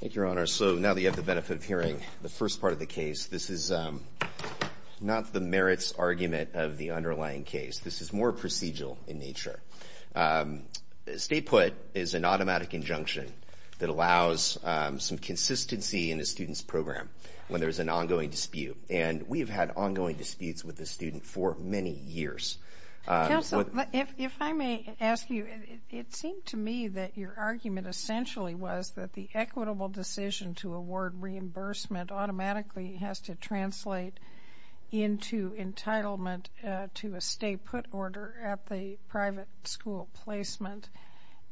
Thank you, Your Honor. So now that you have the benefit of hearing the first part of the case, this is not the merits argument of the underlying case. This is more procedural in nature. State put is an automatic injunction that allows some consistency in a student's program when there's an ongoing dispute. And we've had ongoing disputes with the student for many years. Counsel, if I may ask you, it seemed to me that your argument essentially was that the equitable decision to award reimbursement automatically has to translate into entitlement to a state put order at the private school placement.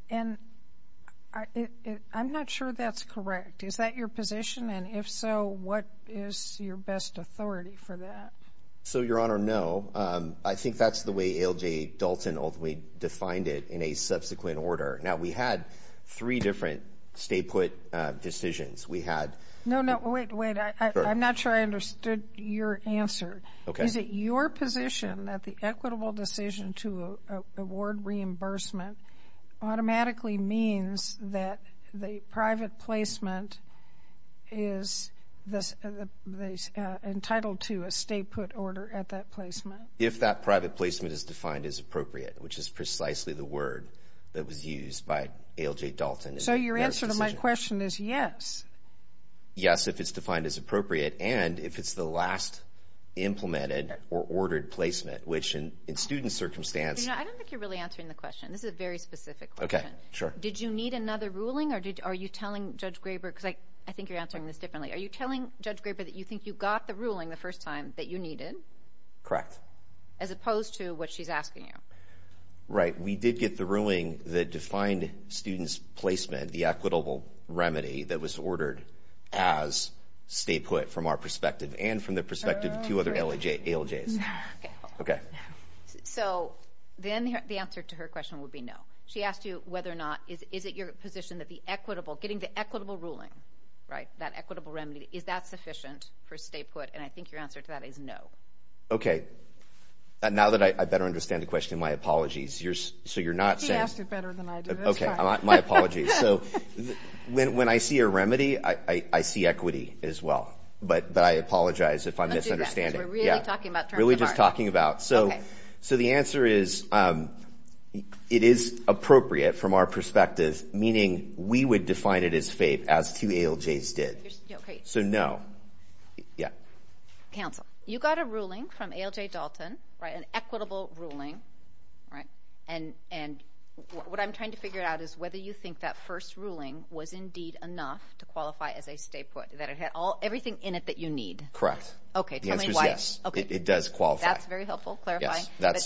And I'm not sure that's correct. Is that your position? And if so, what is your best authority for that? So, Your Honor, no. I think that's the way ALJ Dalton ultimately defined it in a subsequent order. Now, we had three different state put decisions. We had... No, no. Wait, wait. I'm not sure I understood your answer. Is it your position that the equitable is entitled to a state put order at that placement? If that private placement is defined as appropriate, which is precisely the word that was used by ALJ Dalton. So your answer to my question is yes. Yes, if it's defined as appropriate and if it's the last implemented or ordered placement, which in student circumstance... I don't think you're really answering the question. This is a very specific question. Okay, sure. Did you need another ruling or are you telling Judge Graber, because I think you're asking this differently, are you telling Judge Graber that you think you got the ruling the first time that you needed? Correct. As opposed to what she's asking you? Right. We did get the ruling that defined students' placement, the equitable remedy that was ordered as state put from our perspective and from the perspective of two other ALJs. Okay. So then the answer to her question would be no. She asked you whether or not is it your position that the equitable remedy, is that sufficient for state put? And I think your answer to that is no. Okay. Now that I better understand the question, my apologies. So you're not saying... If he asked it better than I did, that's fine. Okay. My apologies. So when I see a remedy, I see equity as well. But I apologize if I'm misunderstanding. Let's do that because we're really talking about terms of art. Really just talking about... So the answer is it is appropriate from our perspective, meaning we would define it as FAPE as two ALJs did. So no. Yeah. Counsel, you got a ruling from ALJ Dalton, an equitable ruling. And what I'm trying to figure out is whether you think that first ruling was indeed enough to qualify as a state put, that it had everything in it that you need. Correct. The answer is yes. It does qualify. That's very helpful. Clarifying. But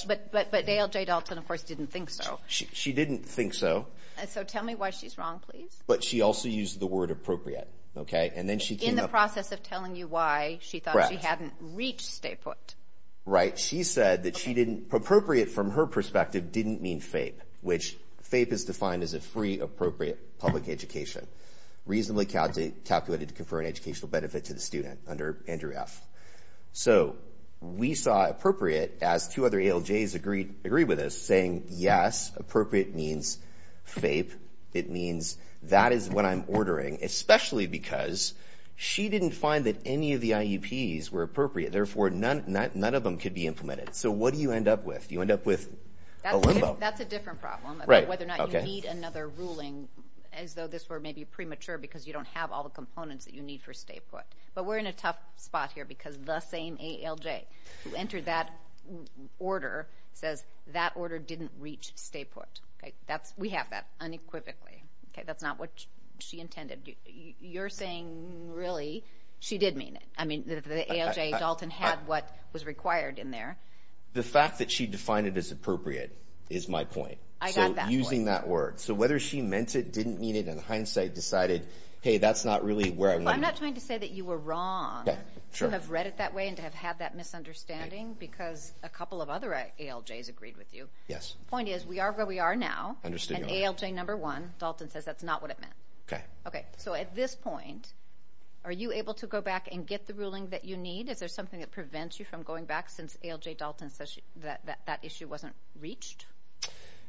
ALJ Dalton, of course, didn't think so. She didn't think so. So tell me why she's wrong, please. But she also used the word appropriate. Okay. And then she came up... In the process of telling you why she thought she hadn't reached state put. Right. She said that she didn't... Appropriate from her perspective didn't mean FAPE, which FAPE is defined as a free appropriate public education, reasonably calculated to confer an educational benefit to the student under Andrew F. So we saw appropriate as two other ALJs agreed with us saying, yes, appropriate means FAPE. It means that is what I'm ordering, especially because she didn't find that any of the IEPs were appropriate. Therefore, none of them could be implemented. So what do you end up with? You end up with a limbo. That's a different problem. Right. Whether or not you need another ruling as though this were maybe premature because you don't have all the components that you need for state put. But we're in a tough spot here because the same ALJ who entered that order says that order didn't reach state put. Okay. That's... We have that unequivocally. Okay. That's not what she intended. You're saying really she did mean it. I mean, the ALJ, Dalton, had what was required in there. The fact that she defined it as appropriate is my point. I got that point. So using that word. So whether she meant it, didn't mean it, in hindsight decided, hey, that's not really where I want to... I'm not trying to say that you were wrong to have read it that way and to have had that misunderstanding because a couple of other ALJs agreed with you. Yes. Point is, we are where we are now. Understood. And ALJ number one, Dalton, says that's not what it meant. Okay. Okay. So at this point, are you able to go back and get the ruling that you need? Is there something that prevents you from going back since ALJ Dalton says that that issue wasn't reached?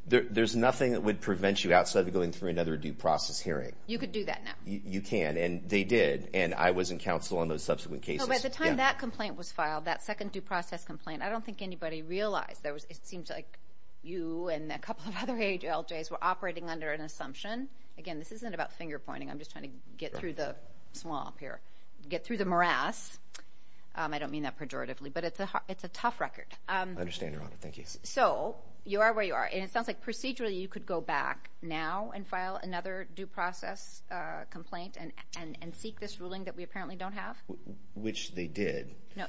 There's nothing that would prevent you outside of going through another due process hearing. You could do that now. You can, and they did, and I was in counsel on those subsequent cases. No, but at the time that complaint was filed, that second due process complaint, I don't think anybody realized there was... It seems like you and a couple of other ALJs were operating under an assumption. Again, this isn't about finger pointing. I'm just trying to get through the swamp here. Get through the morass. I don't mean that pejoratively, but it's a tough record. I understand, Your Honor. Thank you. So you are where you are, and it sounds like procedurally you could go back now and file another due process complaint and seek this ruling that we apparently don't have? Which they did. No.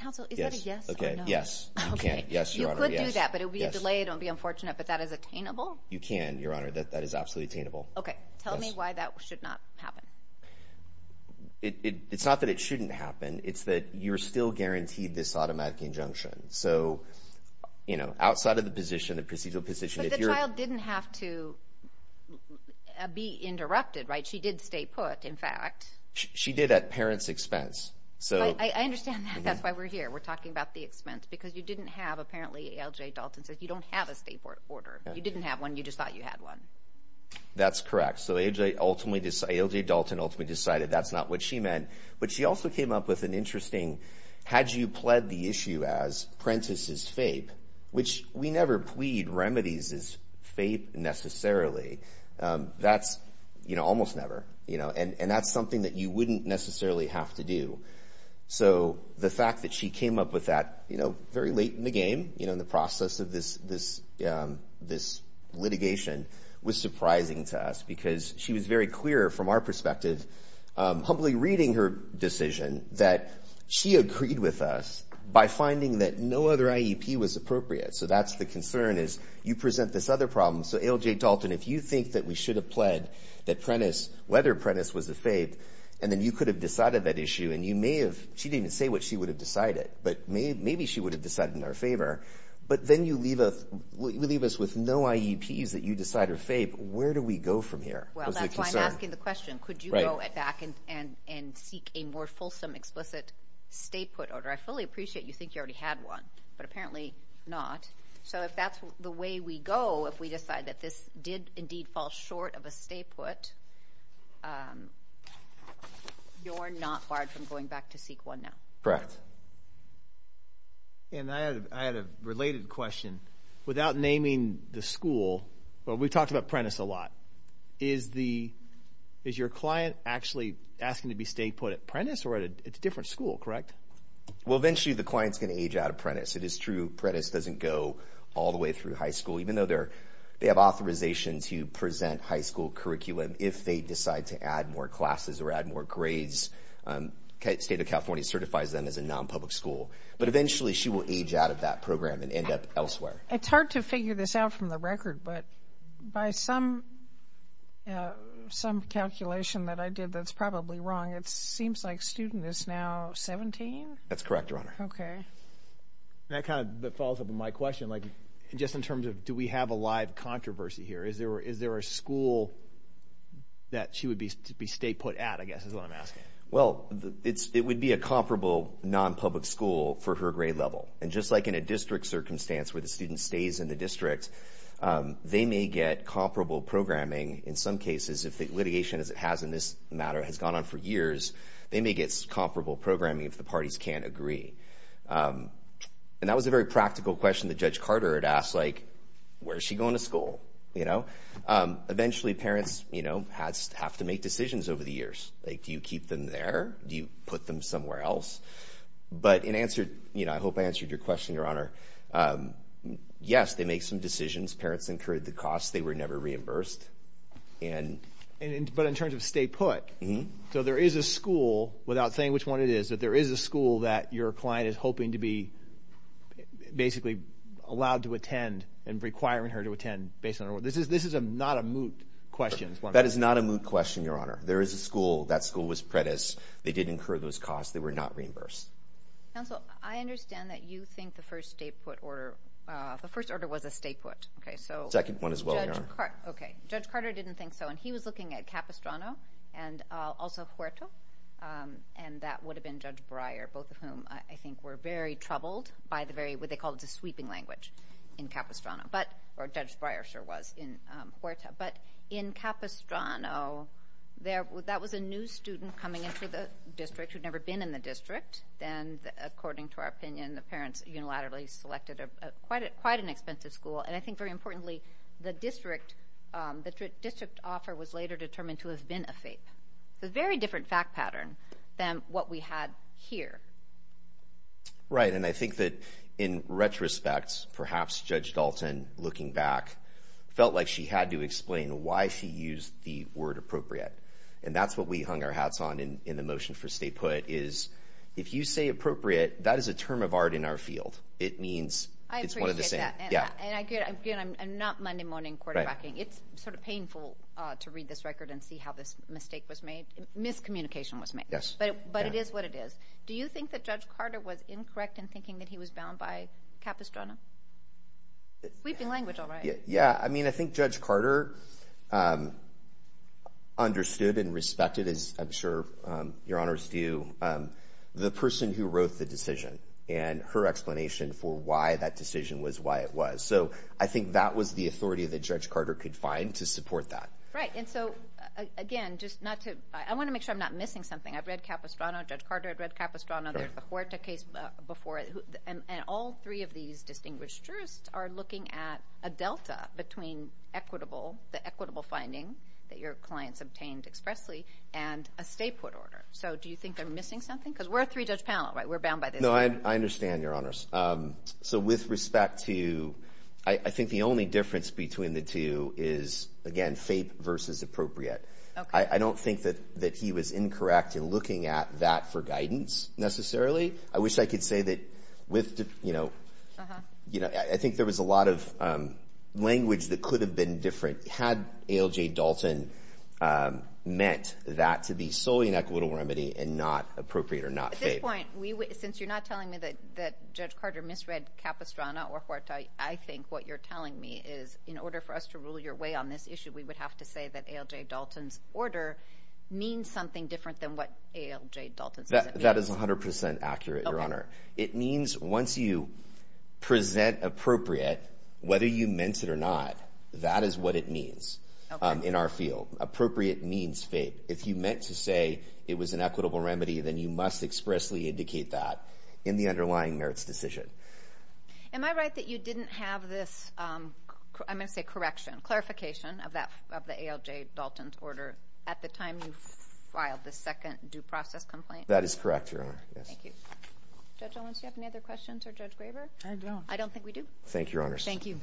Counsel, is that a yes or no? Yes. You can. Yes, Your Honor. You could do that, but it would be a delay. It would be unfortunate. But that is attainable? You can, Your Honor. That is absolutely attainable. Okay. Tell me why that should not happen. It's not that it shouldn't happen. It's that you're still guaranteed this automatic injunction. So, you know, outside of the position, the procedural position... The child didn't have to be interrupted, right? She did stay put, in fact. She did at parent's expense. I understand that. That's why we're here. We're talking about the expense, because you didn't have, apparently, A.L.J. Dalton says you don't have a state order. You didn't have one. You just thought you had one. That's correct. So A.L.J. Dalton ultimately decided that's not what she meant. But she also came up with an interesting, had you pled the issue as Prentiss's fape, which we never plead remedies as fape, necessarily. That's, you know, almost never. You know, and that's something that you wouldn't necessarily have to do. So the fact that she came up with that, you know, very late in the game, you know, in the process of this litigation was surprising to us, because she was very clear from our perspective, humbly reading her decision, that she agreed with us by finding that no other IEP was appropriate. So that's the concern, is you present this other problem. So A.L.J. Dalton, if you think that we should have pled that Prentiss, whether Prentiss was a fape, and then you could have decided that issue, and you may have, she didn't even say what she would have decided, but maybe she would have decided in our favor. But then you leave us with no IEPs that you decide are fape. Where do we go from here? Well, that's why I'm asking the question. Could you go back and seek a more fulsome, explicit stay-put order? I fully appreciate you think you already had one, but apparently not. So if that's the way we go, if we decide that this did indeed fall short of a stay-put, you're not barred from going back to seek one now. Correct. And I had a related question. Without naming the school, but we talked about Prentiss a lot. Is your client actually asking to be stay-put at Prentiss or at a different school, correct? Well, eventually the client's going to age out of Prentiss. It is true Prentiss doesn't go all the way through high school, even though they have authorization to present high school curriculum if they decide to add more classes or add more grades. State of California certifies them as a non-public school. But eventually she will age out of that program and end up elsewhere. It's hard to figure this out from the record, but by some calculation that I did that's probably wrong, it seems like student is now 17? That's correct, Your Honor. Okay. That kind of follows up on my question, like just in terms of do we have a live controversy here? Is there a school that she would be stay-put at, I guess, is what I'm asking. Well, it would be a comparable non-public school for her grade level. And just like in a district circumstance where the student stays in the district, they may get comparable programming. In some cases, if the litigation as it has in this matter has gone on for years, they may get comparable programming if the parties can't agree. And that was a very practical question that Judge Carter had asked, like, where is she going to school, you know? Eventually parents, you know, have to make decisions over the years. Like, do you keep them there? Do you put them somewhere else? But in answer, you know, I hope I answered your question, Your Honor. Yes, they make some decisions. Parents incurred the cost. They were never reimbursed. But in terms of stay-put, so there is a school, without saying which one it is, that there is a school that your client is hoping to be basically allowed to attend and requiring her to attend based on... This is not a moot question. That is not a moot question, Your Honor. There is a school. That school was PREDIS. They did incur those costs. They were not reimbursed. Counsel, I understand that you think the first stay-put order... The first order was a stay-put. Okay, so... Second one as well, Your Honor. Okay. Judge Carter didn't think so. And he was looking at Capistrano and also Huerta. And that would have been Judge Breyer, both of whom I think were very troubled by the very... They called it the sweeping language in Capistrano. But... Or Judge Breyer sure was in Huerta. But in Capistrano, that was a new student coming into the district who'd never been in the district. And according to our opinion, the parents unilaterally selected quite an expensive school. And I think very importantly, the district offer was later determined to have been a FAPE. It's a very different fact pattern than what we had here. Right. And I think that in retrospect, perhaps Judge Dalton, looking back, felt like she had to explain why she used the word appropriate. And that's what we hung our hats on in the motion for stay put, is if you say appropriate, that is a term of art in our field. It means... I appreciate that. Yeah. And again, I'm not Monday morning quarterbacking. It's sort of painful to read this record and see how this mistake was made, miscommunication was made. Yes. But it is what it is. Do you think that Judge Carter was incorrect in thinking that he was bound by Capistrano? Sweeping language, all right. Yeah. I mean, I think Judge Carter understood and respected, as I'm sure your honors do, the person who wrote the decision and her explanation for why that decision was why it was. So I think that was the authority that Judge Carter could find to support that. Right. And so, again, just not to... I want to make sure I'm not missing something. I've read Capistrano. Judge Carter had read Capistrano. There's the Huerta case before. And all three of these distinguished jurists are looking at a delta between equitable, the equitable finding that your clients obtained expressly, and a state court order. So do you think they're missing something? Because we're a three-judge panel, right? We're bound by this. No, I understand, your honors. So with respect to... I think the only difference between the two is, again, fake versus appropriate. Okay. I don't think that he was incorrect in looking at that for guidance, necessarily. I wish I could say that with... I think there was a lot of language that could have been different had ALJ Dalton meant that to be solely an equitable remedy and not appropriate or not fake. At this point, since you're not telling me that Judge Carter misread Capistrano or Huerta, I think what you're telling me is, in order for us to rule your way on this issue, we would have to say that ALJ Dalton's order means something different than what ALJ Dalton's order means. That is 100% accurate, your honor. It means once you present appropriate, whether you meant it or not, that is what it means in our field. Appropriate means fake. If you meant to say it was an equitable remedy, then you must expressly indicate that in the underlying merits decision. Am I right that you didn't have this... I'm going to say correction, clarification of the ALJ Dalton's order at the time you filed the second due process complaint? That is correct, your honor. Yes. Thank you. Judge Owens, do you have any other questions for Judge Graber? I don't. I don't think we do. Thank you, your honors. Thank you.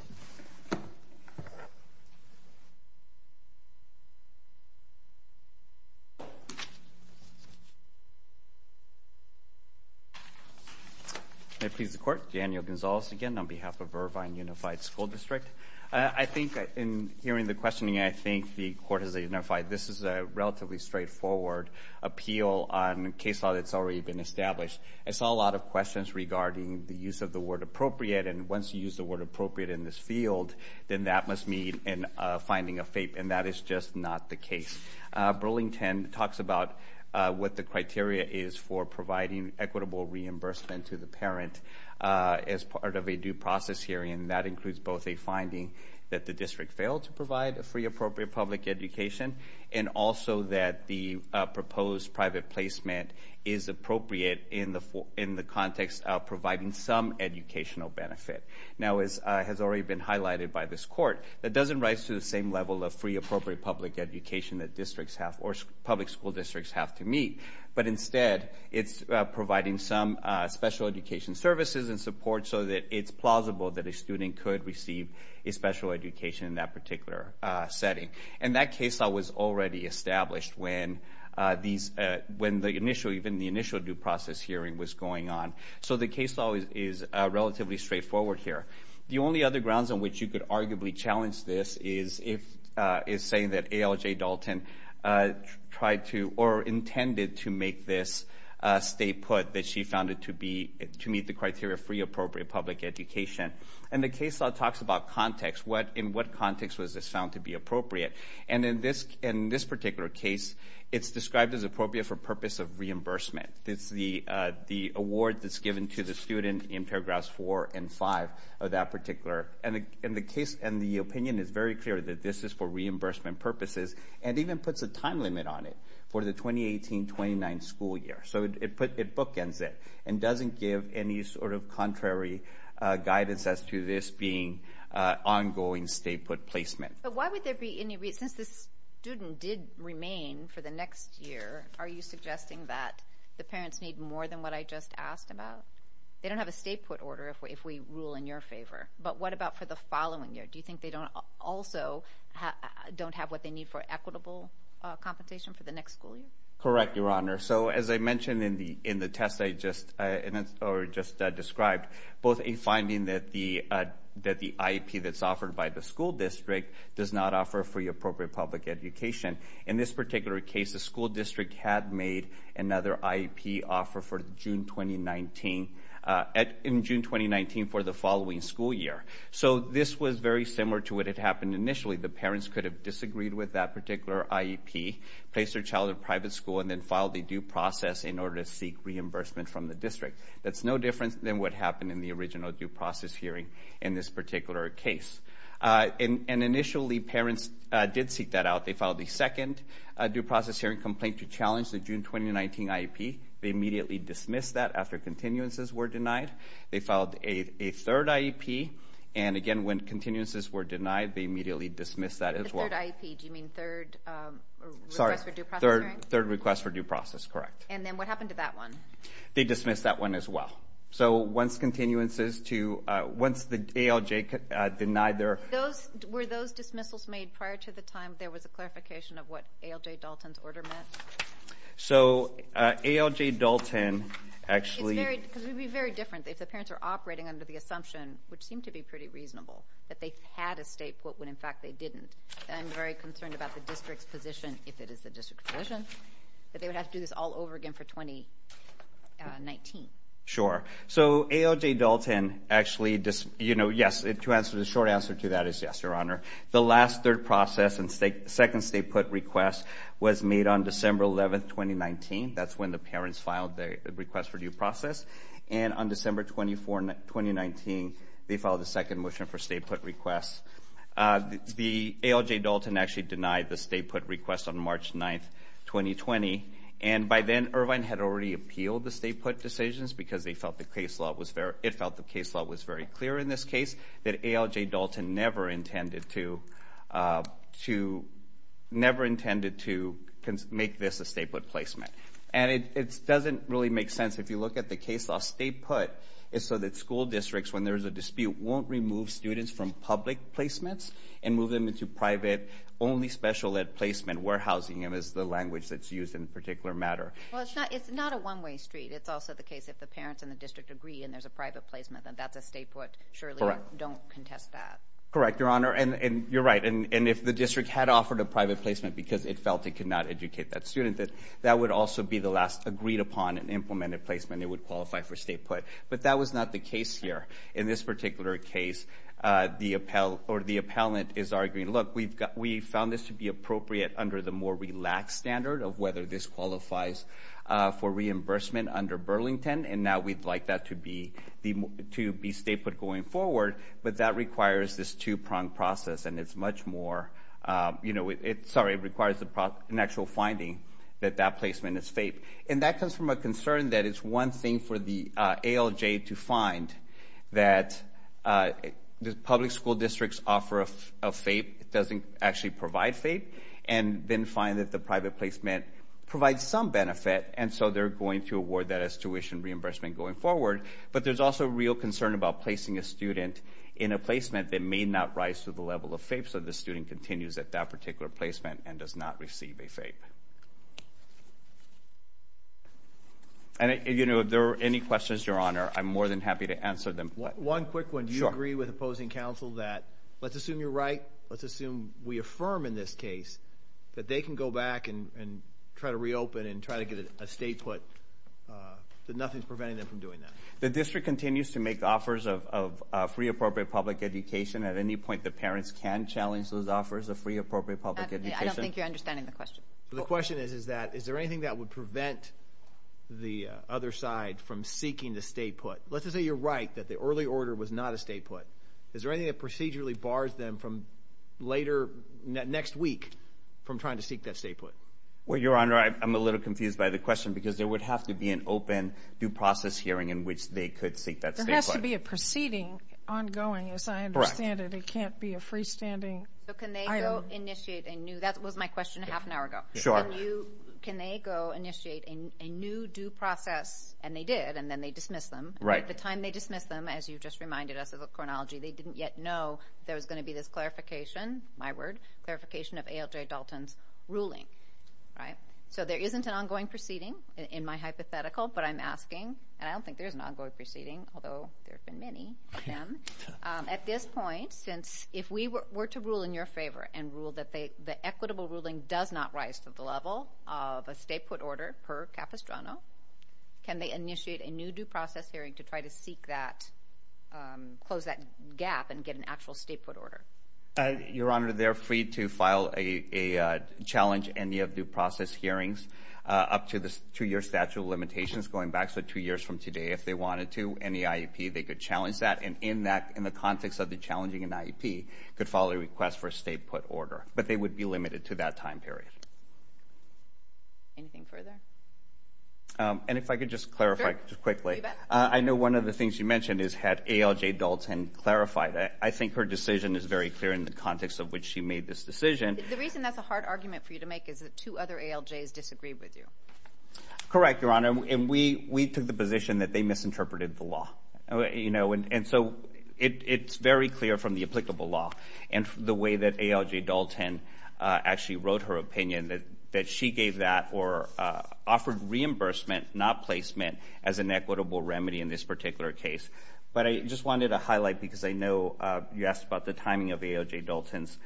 May it please the court, Daniel Gonzalez again on behalf of Irvine Unified School District. I think in hearing the questioning, I think the court has identified this is a relatively straightforward appeal on a case law that's already been established. I saw a lot of questions regarding the use of the word appropriate, and once you use the word appropriate in this field, then that must mean a finding of fake, and that is just not the case. Burlington talks about what the criteria is for providing equitable reimbursement to the parent as part of a due process hearing, and that includes both a finding that the district failed to provide a free appropriate public education, and also that the proposed private placement is appropriate in the context of providing some educational benefit. Now, as has already been highlighted by this court, that doesn't rise to the same level of free appropriate public education that districts have, or public school districts have to meet, but instead it's providing some special education services and support so that it's plausible that a student could receive a special education in that particular setting, and that case law was already established when the initial due process hearing was going on, so the case law is relatively straightforward here. The only other grounds on which you could arguably challenge this is saying that A.L.J. Dalton tried to, or intended to make this state put that she found it to be, to meet the criteria of free appropriate public education, and the case law talks about context, in what context was this found to be appropriate, and in this particular case, it's described as appropriate for purpose of reimbursement. It's the award that's given to the student in paragraphs four and five of that particular, and the case, and the opinion is very clear that this is for reimbursement purposes, and even puts a time limit on it for the 2018-29 school year, so it bookends it, and doesn't give any sort of contrary guidance as to this being ongoing state put placement. But why would there be any, since this student did remain for the next year, are you suggesting that the parents need more than what I just asked about? They don't have a state put order if we rule in your favor, but what about for the following year? Do you think they also don't have what they need for equitable compensation for the next school year? Correct, Your Honor. So as I mentioned in the test I just described, both a finding that the IEP that's offered by the school district does not offer free appropriate public education. In this particular case, the school district had made another IEP offer for June 2019, in June 2019 for the following school year. So this was very similar to what had happened initially. The parents could have disagreed with that particular IEP, placed their child in private school, and then filed a due process in order to seek reimbursement from the district. That's no different than what happened in the original due process hearing in this particular case. And initially parents did seek that out. They filed the second due process hearing complaint to challenge the June 2019 IEP. They immediately dismissed that after continuances were denied. They filed a third IEP. And again, when continuances were denied, they immediately dismissed that as well. The third IEP, do you mean third request for due process hearing? Third request for due process, correct. And then what happened to that one? They dismissed that one as well. So once continuances to, once the ALJ denied their- Those, were those dismissals made prior to the time there was a clarification of what ALJ Dalton's order meant? So ALJ Dalton actually- It's very, because it would be very different if the parents are operating under the assumption, which seemed to be pretty reasonable, that they had a state court when in fact they didn't. I'm very concerned about the district's position, if it is the district's position, that they would have to do this all over again for 2019. Sure. So ALJ Dalton actually, yes, the short answer to that is yes, Your Honor. The last third process and second state put request was made on December 11th, 2019. That's when the parents filed the request for due process. And on December 24th, 2019, they filed the second motion for state put requests. The ALJ Dalton actually denied the state put request on March 9th, 2020. And by then, Irvine had already appealed the state put decisions because they felt the case law was very, it felt the case law was very clear in this case that ALJ Dalton never intended to, never intended to make this a state put placement. And it doesn't really make sense if you look at the case law. State put is so that school districts, when there's a dispute, won't remove students from public placements and move them into private, only special ed placement. Warehousing is the language that's used in particular matter. Well, it's not a one-way street. It's also the case if the parents and the district agree and there's a private placement, then that's a state put. Surely you don't contest that. Correct, Your Honor. And you're right. And if the district had offered a private placement because it felt it could not educate that student, that would also be the last agreed upon and implemented placement. It would qualify for state put. But that was not the case here. In this particular case, or the appellant is arguing, look, we found this to be appropriate under the more relaxed standard of whether this qualifies for reimbursement under Burlington. And now we'd like that to be state put going forward. But that requires this two-pronged process. And it's much more, sorry, it requires an actual finding that that placement is FAPE. And that comes from a concern that it's one thing for the ALJ to find that the public school districts offer a FAPE. It doesn't actually provide FAPE. And then find that the private placement provides some benefit. And so they're going to award that as tuition reimbursement going forward. But there's also a real concern about placing a student in a placement that may not rise to the level of FAPE. So the student continues at that particular placement and does not receive a FAPE. And if there are any questions, Your Honor, I'm more than happy to answer them. One quick one. Do you agree with opposing counsel that let's assume you're right? Let's assume we affirm in this case that they can go back and try to reopen and try to get a state put, that nothing's preventing them from doing that? The district continues to make offers of free appropriate public education at any point the parents can challenge those offers of free appropriate public education. I don't think you're understanding the question. The question is that, is there anything that would prevent the other side from seeking the state put? Let's just say you're right that the early order was not a state put. Is there anything that procedurally bars them later next week from trying to seek that state put? Well, Your Honor, I'm a little confused by the question because there would have to be an open due process hearing in which they could seek that state put. There has to be a proceeding ongoing, as I understand it. It can't be a freestanding item. So can they go initiate a new, that was my question a half an hour ago. Sure. Can they go initiate a new due process? And they did. And then they dismiss them. Right. At the time they dismiss them, as you've just reminded us of the chronology, they didn't yet know there was going to be this clarification, my word, clarification of ALJ Dalton's ruling. Right. So there isn't an ongoing proceeding in my hypothetical, but I'm asking, and I don't think there's an ongoing proceeding, although there have been many of them, at this point, since if we were to rule in your favor and rule that the equitable ruling does not rise to the level of a state put order per capistrano, can they initiate a new due process hearing to try to seek that, close that gap and get an actual state put order? Your Honor, they're free to file a challenge and you have due process hearings up to the two-year statute of limitations going back. So two years from today, if they wanted to, any IEP, they could challenge that. And in that, in the context of the challenging an IEP, could file a request for a state put order, but they would be limited to that time period. Anything further? And if I could just clarify quickly, I know one of the things you mentioned is had ALJ Dalton clarified. I think her decision is very clear in the context of which she made this decision. The reason that's a hard argument for you to make is that two other ALJs disagreed with you. Correct, Your Honor. And we took the position that they misinterpreted the law. And so it's very clear from the applicable law and the way that ALJ Dalton actually wrote her opinion that she gave that or offered reimbursement, not placement, as an equitable remedy in this particular case. But I just wanted to highlight because I know you asked about the timing of ALJ Dalton's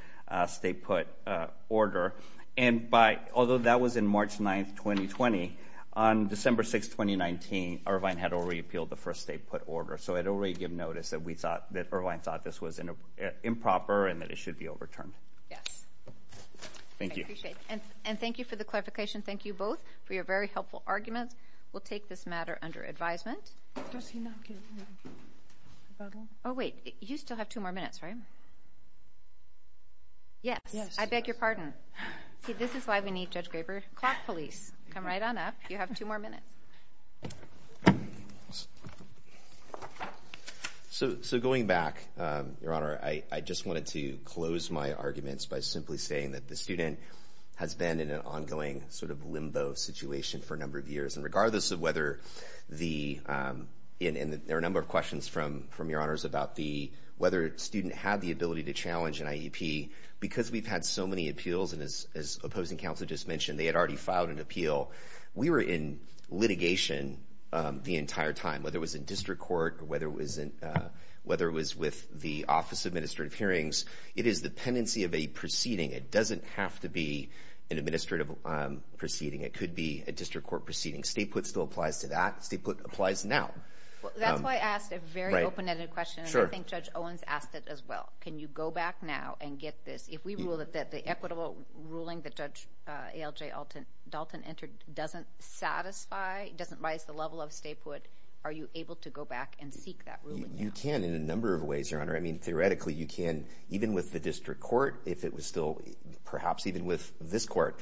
state put order. And although that was in March 9th, 2020, on December 6th, 2019, Irvine had already appealed the first state put order. So I'd already given notice that Irvine thought this was improper and that it should be overturned. Yes. Thank you. I appreciate it. And thank you for the clarification. Thank you both for your very helpful arguments. We'll take this matter under advisement. Oh, wait. You still have two more minutes, right? Yes. I beg your pardon. See, this is why we need Judge Graber. Clock police. Come right on up. You have two more minutes. So going back, Your Honor, I just wanted to close my arguments by simply saying that the student has been in an ongoing sort of limbo situation for a number of years and regardless of whether the... There are a number of questions from Your Honors about whether a student had the ability to challenge an IEP. Because we've had so many appeals, and as opposing counsel just mentioned, they had already filed an appeal. We were in litigation the entire time, whether it was in district court or whether it was with the Office of Administrative Hearings. It is the pendency of a proceeding. It doesn't have to be an administrative proceeding. It could be a district court proceeding. Stay put still applies to that. Stay put applies now. Well, that's why I asked a very open-ended question. And I think Judge Owens asked it as well. Can you go back now and get this? If we rule that the equitable ruling that Judge A.L.J. Dalton entered doesn't satisfy, doesn't rise the level of stay put, are you able to go back and seek that ruling now? You can in a number of ways, Your Honor. I mean, theoretically, you can. Even with the district court, if it was still, perhaps even with this court,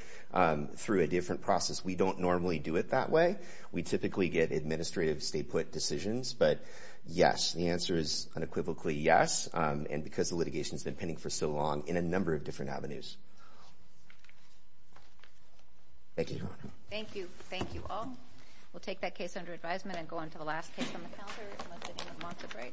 through a different process, we don't normally do it that way. We typically get administrative stay put decisions. But yes, the answer is unequivocally yes. And because the litigation's been pending for so long in a number of different avenues. Thank you, Your Honor. Thank you. Thank you all. We'll take that case under advisement and go on to the last case on the calendar unless anyone wants a break.